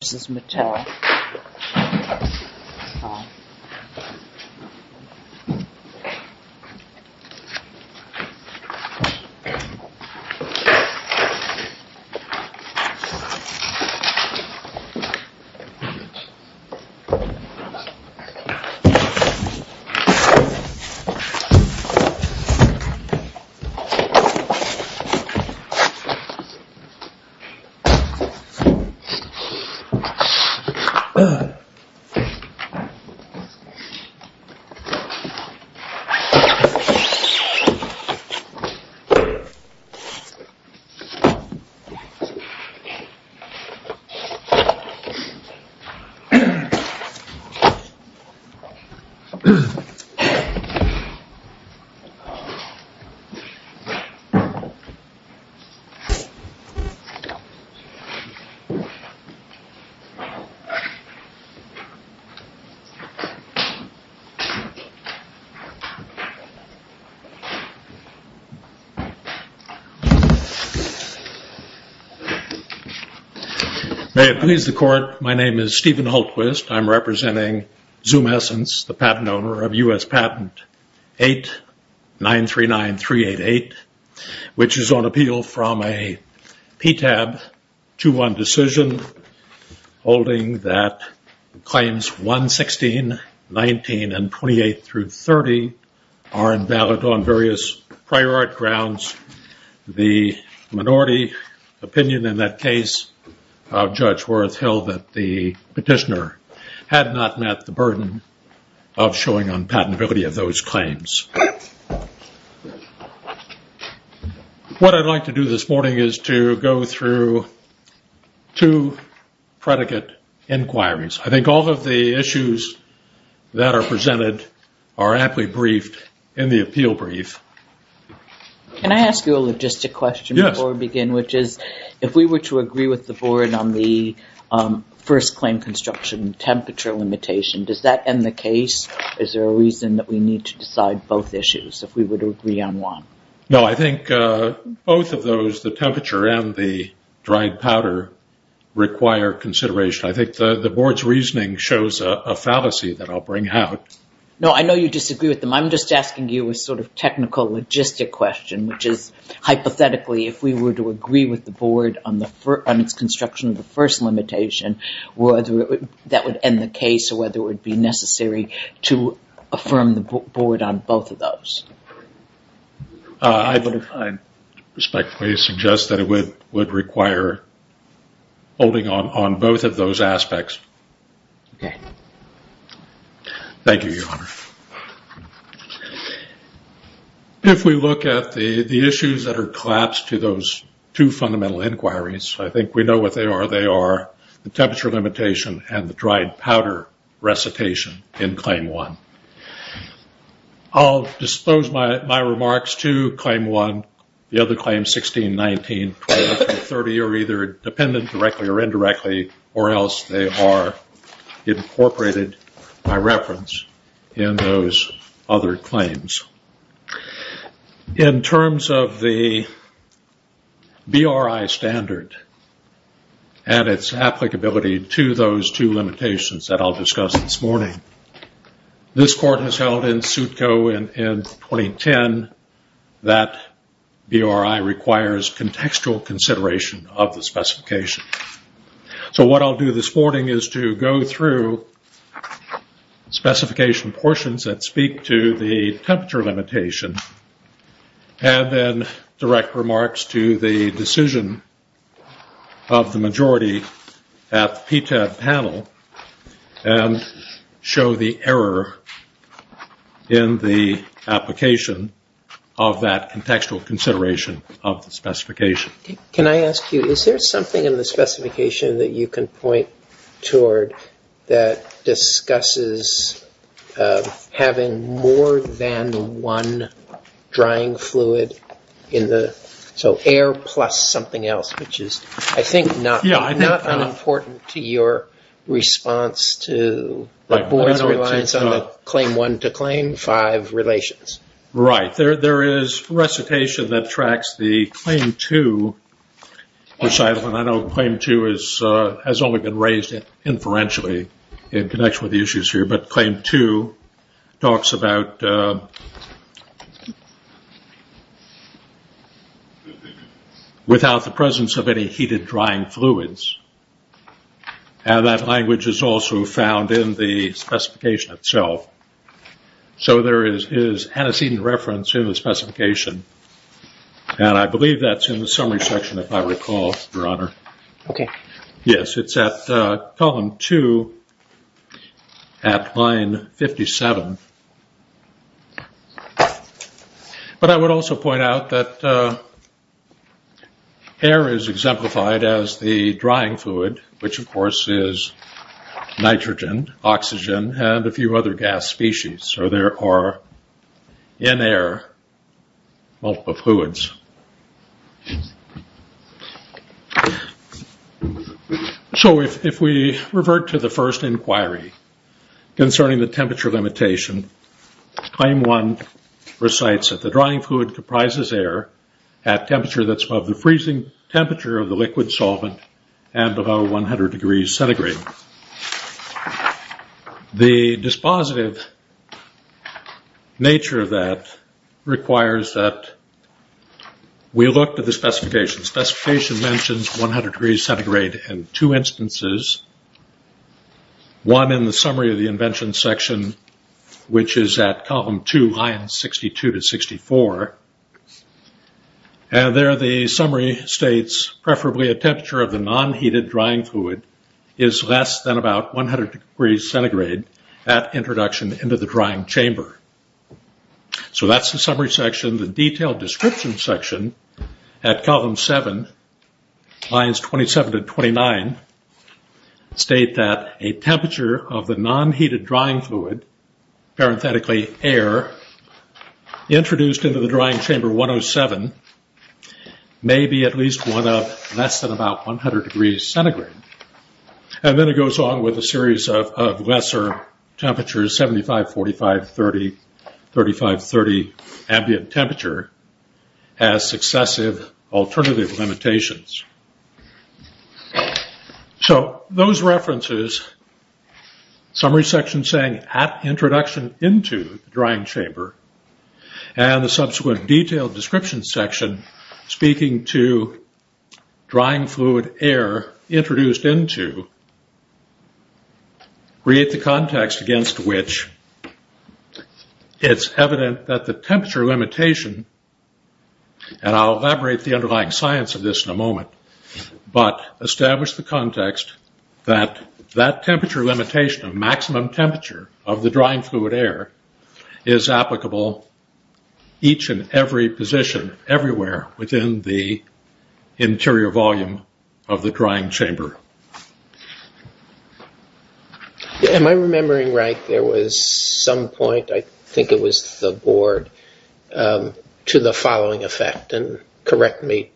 This is Matal. May it please the court, my name is Stephen Hultquist. I'm representing Zoomessence, the patent owner of U.S. Patent 8-939-388, which is on holding that claims 116, 19, and 28-30 are invalid on various prior art grounds. The minority opinion in that case of Judge Worth held that the petitioner had not met the burden of showing unpatentability of those claims. What I'd like to do this morning is to go through two predicate inquiries. I think all of the issues that are presented are aptly briefed in the appeal brief. Can I ask you a logistic question before we begin, which is if we were to agree with the board on the first claim construction temperature limitation, does that end the case? Is there a reason that we need to decide both issues, if we were to agree on one? No, I think both of those, the temperature and the dried powder, require consideration. I think the board's reasoning shows a fallacy that I'll bring out. No, I know you disagree with them. I'm just asking you a sort of technical logistic question, which is, hypothetically, if we were to agree with the board on its construction of the first limitation, that would end the case. Is there a reason necessary to affirm the board on both of those? I respectfully suggest that it would require holding on both of those aspects. Okay. Thank you, Your Honor. If we look at the issues that are collapsed to those two fundamental inquiries, I think we know what they are. The temperature limitation and the dried powder recitation in Claim 1. I'll dispose my remarks to Claim 1, the other claims 16, 19, 20, 30, or either dependent directly or indirectly, or else they are incorporated by reference in those other claims. In terms of the BRI standard and its applicability to those two limitations that I'll discuss this morning, this court has held in suitco in 2010 that BRI requires contextual consideration of the specification. So what I'll do this morning is to go through specification portions that speak to the temperature limitation and then direct remarks to the decision of the majority at the PTAB panel and show the error in the application of that contextual consideration of the specification. Can I ask you, is there something in the specification that you can point toward that discusses having more than one drying fluid in the... So air plus something else, which is, I think, not unimportant to your response to the board's reliance on the Claim 1 to Claim 5 relations. Right. There is recitation that tracks the Claim 2 recital, and I know Claim 2 has only been raised inferentially in connection with the issues here, but Claim 2 talks about without the presence of any heated drying fluids, and that language is also found in the specification itself. So there is antecedent reference in the specification, and I believe that's in the summary section, if I recall, Your Honor. Okay. Yes. It's at column 2 at line 57, but I would also point out that air is exemplified as the drying fluid, which of course is nitrogen, oxygen, and a few other gas species. So there are, in air, multiple fluids. So if we revert to the first inquiry concerning the temperature limitation, Claim 1 recites that the drying fluid comprises air at temperature that's above the freezing temperature of the air below 100 degrees centigrade. The dispositive nature of that requires that we look to the specification. Specification mentions 100 degrees centigrade in two instances. One in the summary of the invention section, which is at column 2, line 62 to 64, and there the summary states, preferably a temperature of the non-heated drying fluid is less than about 100 degrees centigrade at introduction into the drying chamber. So that's the summary section. The detailed description section at column 7, lines 27 to 29, state that a temperature of the non-heated drying fluid, parenthetically air, introduced into the drying chamber 107 may be at least one of less than about 100 degrees centigrade. And then it goes on with a series of lesser temperatures, 75, 45, 30, 35, 30 ambient temperature as successive alternative limitations. So those references, summary section saying at introduction into the drying chamber, and the subsequent detailed description section speaking to drying fluid air introduced into, create the context against which it's evident that the temperature limitation, and I'll But establish the context that that temperature limitation of maximum temperature of the drying fluid air is applicable each and every position, everywhere within the interior volume of the drying chamber. Am I remembering right, there was some point, I think it was the board, to the following effect, and correct me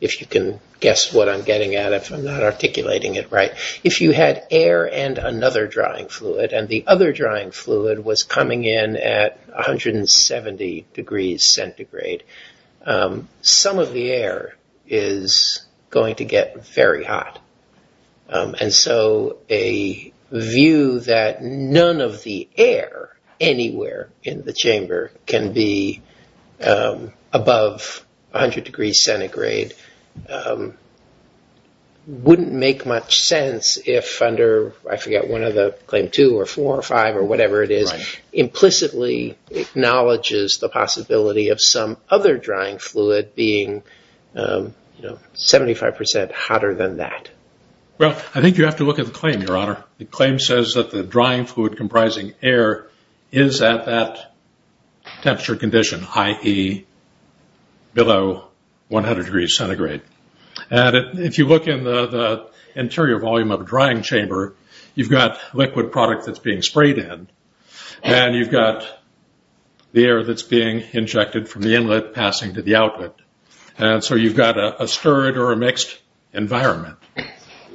if you can guess what I'm getting at if I'm not articulating it right. If you had air and another drying fluid, and the other drying fluid was coming in at 170 degrees centigrade, some of the air is going to get very hot. And so a view that none of the air anywhere in the chamber can be above 100 degrees centigrade wouldn't make much sense if under, I forget, one of the claim two or four or five or whatever it is, implicitly acknowledges the possibility of some other drying fluid being 75% hotter than that. Well, I think you have to look at the claim, your honor. The claim says that the drying fluid comprising air is at that temperature condition, i.e. below 100 degrees centigrade. And if you look in the interior volume of a drying chamber, you've got liquid product that's being sprayed in, and you've got the air that's being injected from the inlet passing to the outlet. And so you've got a stirred or a mixed environment.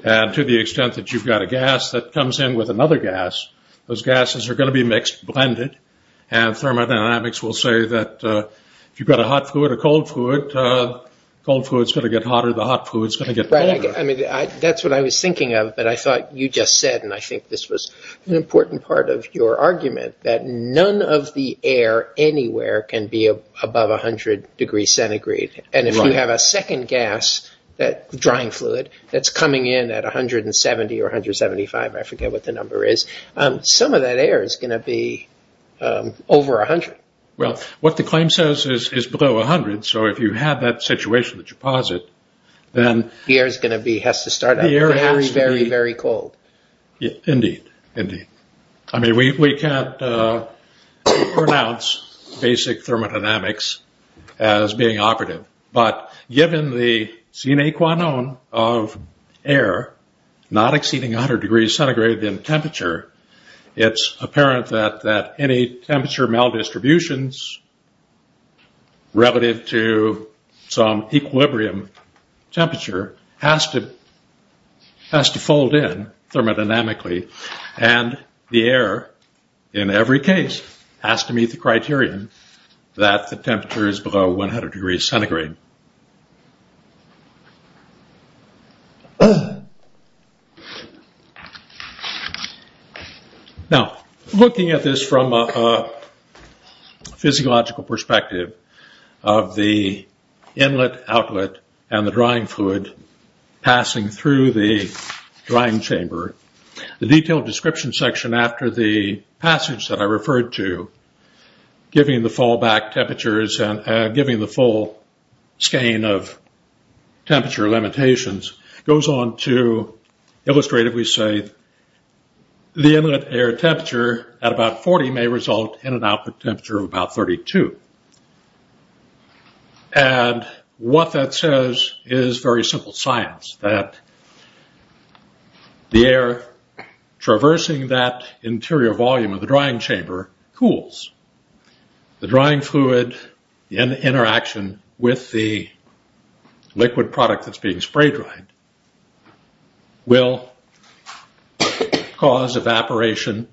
And to the extent that you've got a gas that comes in with another gas, those gases are going to be mixed, blended. And thermodynamics will say that if you've got a hot fluid, a cold fluid, the cold fluid's going to get hotter, the hot fluid's going to get colder. Right. I mean, that's what I was thinking of. But I thought you just said, and I think this was an important part of your argument, that none of the air anywhere can be above 100 degrees centigrade. And if you have a second gas, that drying fluid, that's coming in at 170 or 175, I forget what the number is, some of that air is going to be over 100. Well, what the claim says is below 100. So if you have that situation, the deposit, then- The air is going to be, has to start out very, very, very cold. Indeed. Indeed. I mean, we can't pronounce basic thermodynamics as being operative. But given the sine qua non of air not exceeding 100 degrees centigrade in temperature, it's apparent that any temperature maldistributions relative to some equilibrium temperature has to fold in thermodynamically. And the air, in every case, has to meet the criterion that the temperature is below 100 degrees centigrade. Now, looking at this from a physiological perspective of the inlet, outlet, and the drying chamber, the detailed description section after the passage that I referred to, giving the fallback temperatures and giving the full skein of temperature limitations, goes on to illustrate, if we say, the inlet air temperature at about 40 may result in an output temperature of about 32. And what that says is very simple science, that the air traversing that interior volume of the drying chamber cools. The drying fluid in interaction with the liquid product that's being spray dried will cause evaporation.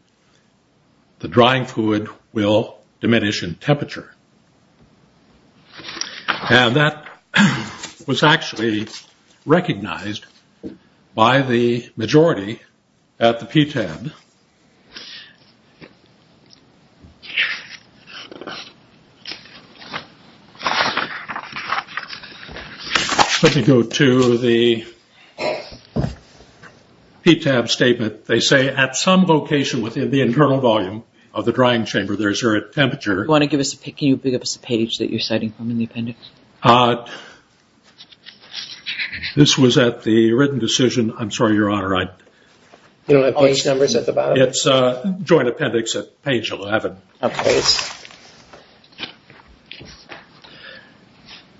The drying fluid will diminish in temperature. And that was actually recognized by the majority at the PTAB. Let me go to the PTAB statement. They say, at some location within the internal volume of the drying chamber, there's a temperature... Can you give us a page that you're citing from in the appendix? This was at the written decision, I'm sorry, your honor, I... You don't have page numbers at the bottom? It's joint appendix at page 11. Okay.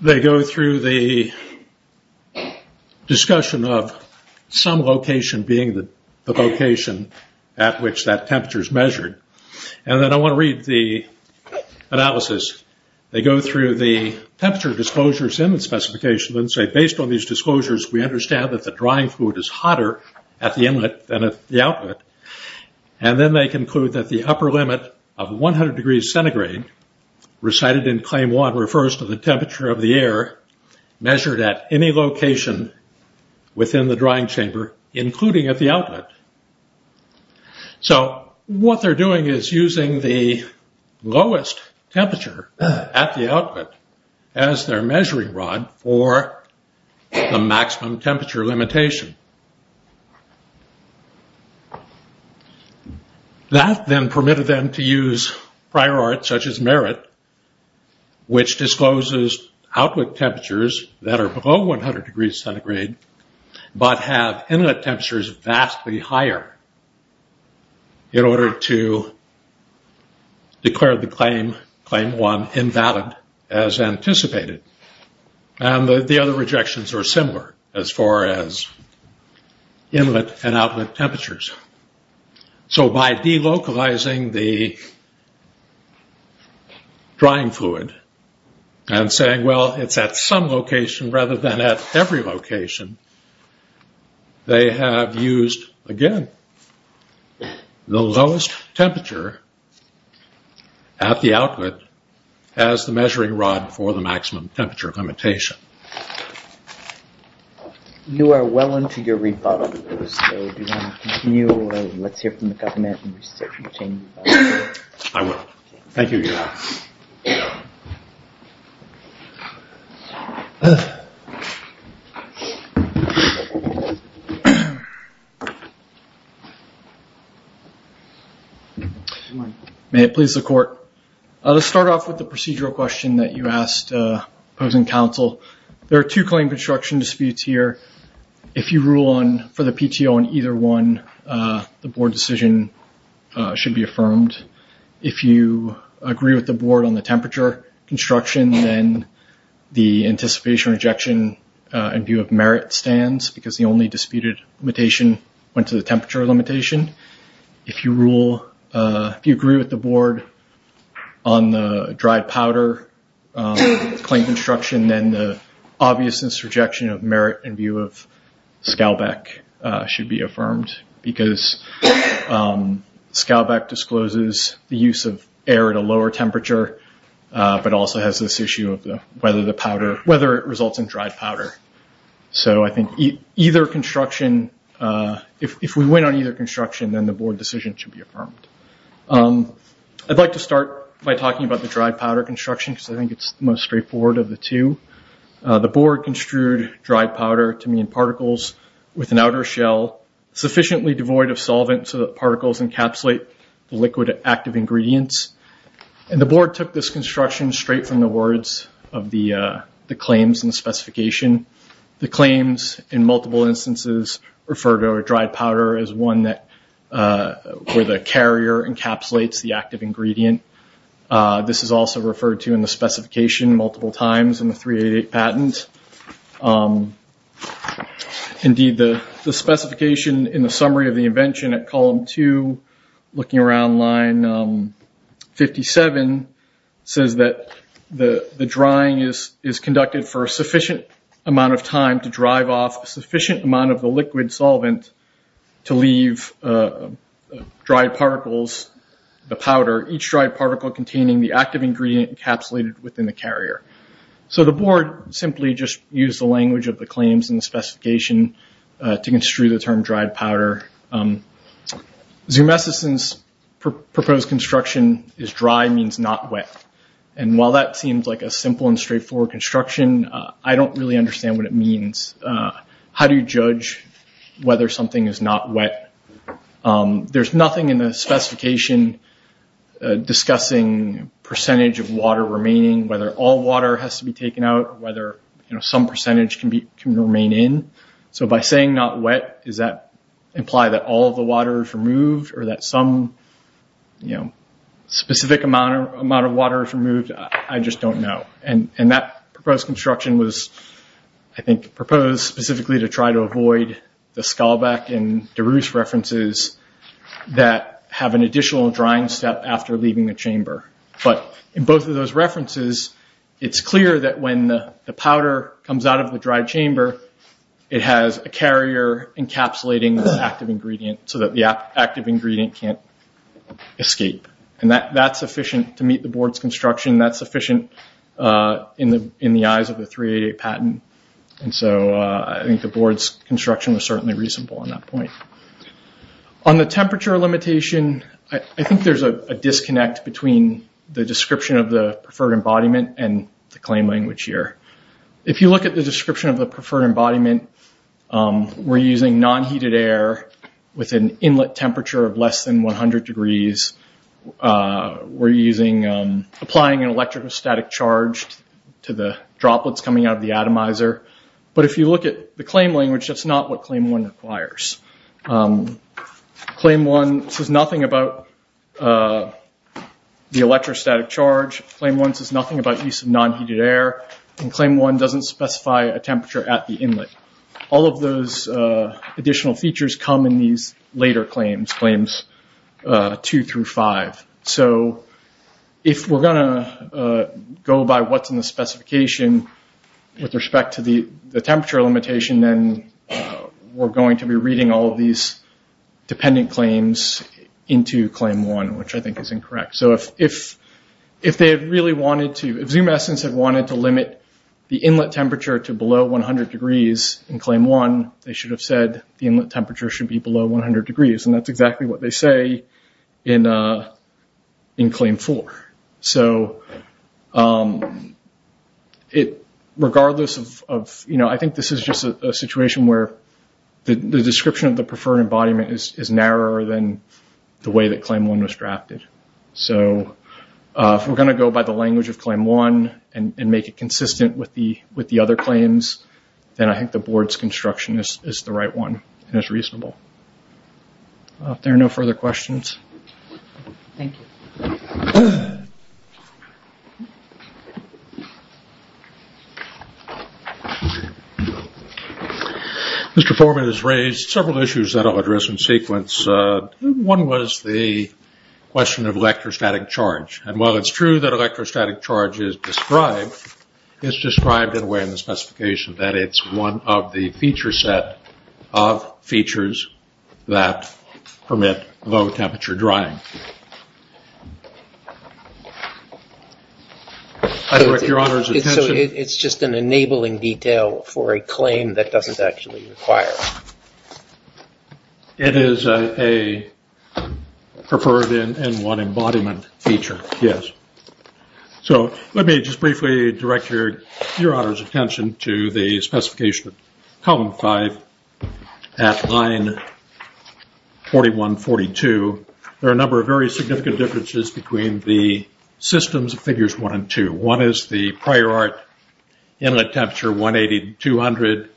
They go through the discussion of some location being the location at which that temperature is measured. And then I want to read the analysis. They go through the temperature disclosures in the specification and say, based on these disclosures, we understand that the drying fluid is hotter at the inlet than at the output. And then they conclude that the upper limit of 100 degrees centigrade recited in claim one refers to the temperature of the air measured at any location within the drying chamber, including at the outlet. So what they're doing is using the lowest temperature at the outlet as their measuring rod for the maximum temperature limitation. That then permitted them to use prior art such as merit, which discloses outlet temperatures that are below 100 degrees centigrade, but have inlet temperatures vastly higher in order to declare the claim, claim one invalid as anticipated. And the other rejections are similar as far as inlet and outlet temperatures. So by delocalizing the drying fluid and saying, well, it's at some location rather than at every location, they have used, again, the lowest temperature at the outlet as the measuring rod for the maximum temperature limitation. You are well into your rebuttal, so do you want to continue, or let's hear from the government I will. Thank you, Your Honor. May it please the court. I'll just start off with the procedural question that you asked opposing counsel. There are two claim construction disputes here. If you rule on, for the PTO on either one, the board decision should be affirmed. If you agree with the board on the temperature construction, then the anticipation or rejection in view of merit stands because the only disputed limitation went to the temperature limitation. If you rule, if you agree with the board on the dried powder claim construction, then the obviousness rejection of merit in view of Scalbeck should be affirmed because Scalbeck discloses the use of air at a lower temperature, but also has this issue of whether it results in dried powder. So I think either construction, if we win on either construction, then the board decision should be affirmed. I'd like to start by talking about the dried powder construction because I think it's the most straightforward of the two. The board construed dried powder to mean particles with an outer shell sufficiently devoid of solvent so that particles encapsulate the liquid active ingredients. The board took this construction straight from the words of the claims and specification. The claims in multiple instances refer to a dried powder as one where the carrier encapsulates the active ingredient. This is also referred to in the specification multiple times in the 388 patent. Indeed, the specification in the summary of the invention at column two, looking around line 57, says that the drying is conducted for a sufficient amount of time to drive off a sufficient amount of the liquid solvent to leave dried particles, the powder, each dried particle containing the active ingredient encapsulated within the carrier. So the board simply just used the language of the claims and the specification to construe the term dried powder. Zumessison's proposed construction is dry means not wet. While that seems like a simple and straightforward construction, I don't really understand what it means. How do you judge whether something is not wet? There's nothing in the specification discussing percentage of water remaining, whether all water has to be taken out, whether some percentage can remain in. So by saying not wet, does that imply that all of the water is removed or that some specific amount of water is removed? I just don't know. That proposed construction was, I think, proposed specifically to try to avoid the Skalbeck and DeRusse references that have an additional drying step after leaving the chamber. But in both of those references, it's clear that when the powder comes out of the dried chamber, it has a carrier encapsulating the active ingredient so that the active ingredient can't escape. That's sufficient to meet the board's construction. That's sufficient in the eyes of the 388 patent. So I think the board's construction was certainly reasonable on that point. On the temperature limitation, I think there's a disconnect between the description of the preferred embodiment and the claim language here. If you look at the description of the preferred embodiment, we're using non-heated air with an inlet temperature of less than 100 degrees. We're applying an electrostatic charge to the droplets coming out of the atomizer. But if you look at the claim language, that's not what Claim 1 requires. Claim 1 says nothing about the electrostatic charge. Claim 1 says nothing about use of non-heated air. Claim 1 doesn't specify a temperature at the inlet. All of those additional features come in these later claims, Claims 2 through 5. So if we're going to go by what's in the specification with respect to the temperature limitation, then we're going to be reading all of these dependent claims into Claim 1, which I think is incorrect. So if Zoom Essence had wanted to limit the inlet temperature to below 100 degrees in Claim 1, they should have said the inlet temperature should be below 100 degrees, and that's exactly what they say in Claim 4. So I think this is just a situation where the description of the preferred embodiment is narrower than the way that Claim 1 was drafted. So if we're going to go by the language of Claim 1 and make it consistent with the other claims, then I think the board's construction is the right one, and it's reasonable. If there are no further questions... Mr. Foreman has raised several issues that I'll address in sequence. One was the question of electrostatic charge, and while it's true that electrostatic charge is described, it's described in a way in the specification that it's one of the feature set of features that permit low-temperature drying. So it's just an enabling detail for a claim that doesn't actually require it? It is a preferred in one embodiment feature, yes. So let me just briefly direct your attention to the specification of Column 5 at line 41-42. There are a number of very significant differences between the systems of Figures 1 and 2. One is the prior art inlet temperature, 180-200.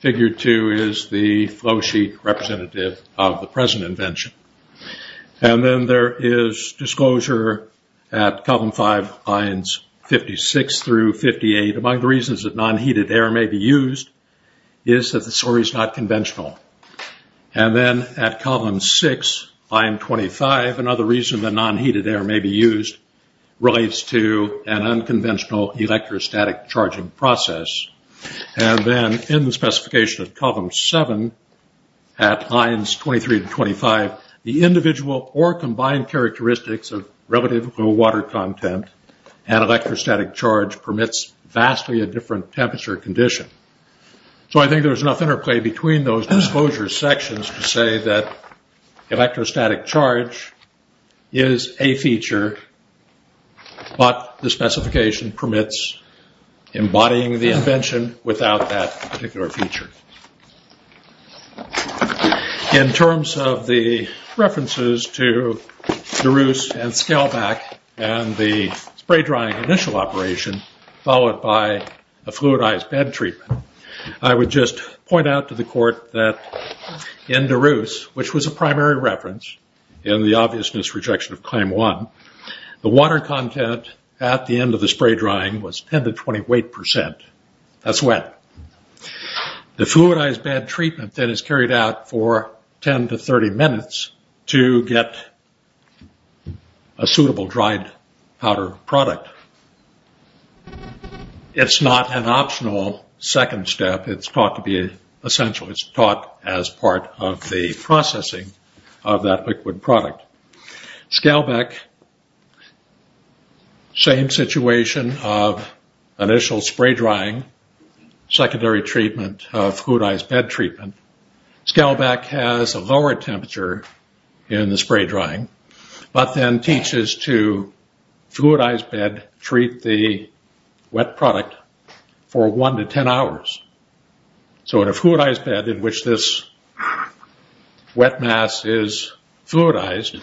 Figure 2 is the flow sheet representative of the present invention. And then there is disclosure at Column 5 lines 56-58. Among the reasons that non-heated air may be used is that the story's not conventional. And then at Column 6, line 25, another reason that non-heated air may be used relates to an unconventional electrostatic charging process. And then in the specification of Column 7 at lines 23-25, the individual or combined characteristics of relative low water content and electrostatic charge permits vastly a different temperature condition. So I think there's enough interplay between those disclosure sections to say that there is no invention without that particular feature. In terms of the references to DeRusse and Scalback and the spray drying initial operation followed by a fluidized bed treatment, I would just point out to the court that in DeRusse, which was a primary reference in the obviousness rejection of Claim 1, the water content at the end of the spray drying was 10-28%. That's wet. The fluidized bed treatment then is carried out for 10-30 minutes to get a suitable dried powder product. It's not an optional second step. It's taught to be essential. It's taught as part of the processing of that liquid product. Scalback, same situation of initial spray drying, secondary treatment of fluidized bed treatment. Scalback has a lower temperature in the spray drying, but then teaches to fluidized bed treat the wet product for 1-10 hours. In a fluidized bed in which this wet mass is fluidized,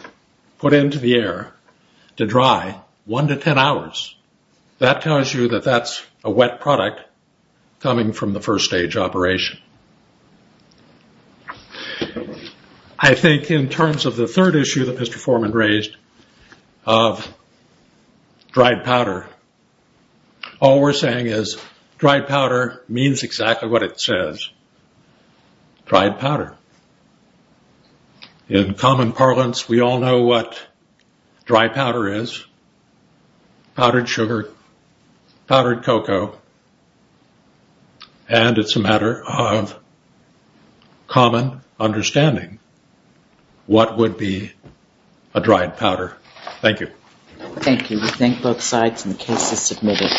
put into the air to dry 1-10 hours, that tells you that that's a wet product coming from the first stage operation. I think in terms of the third issue that Mr. Foreman raised of dried powder, all we're saying is dried powder means exactly what it says, dried powder. In common parlance, we all know what dry powder is, powdered sugar, powdered cocoa, and it's a matter of common understanding what would be a dried powder. Thank you. Thank you. We thank both sides and the case is submitted.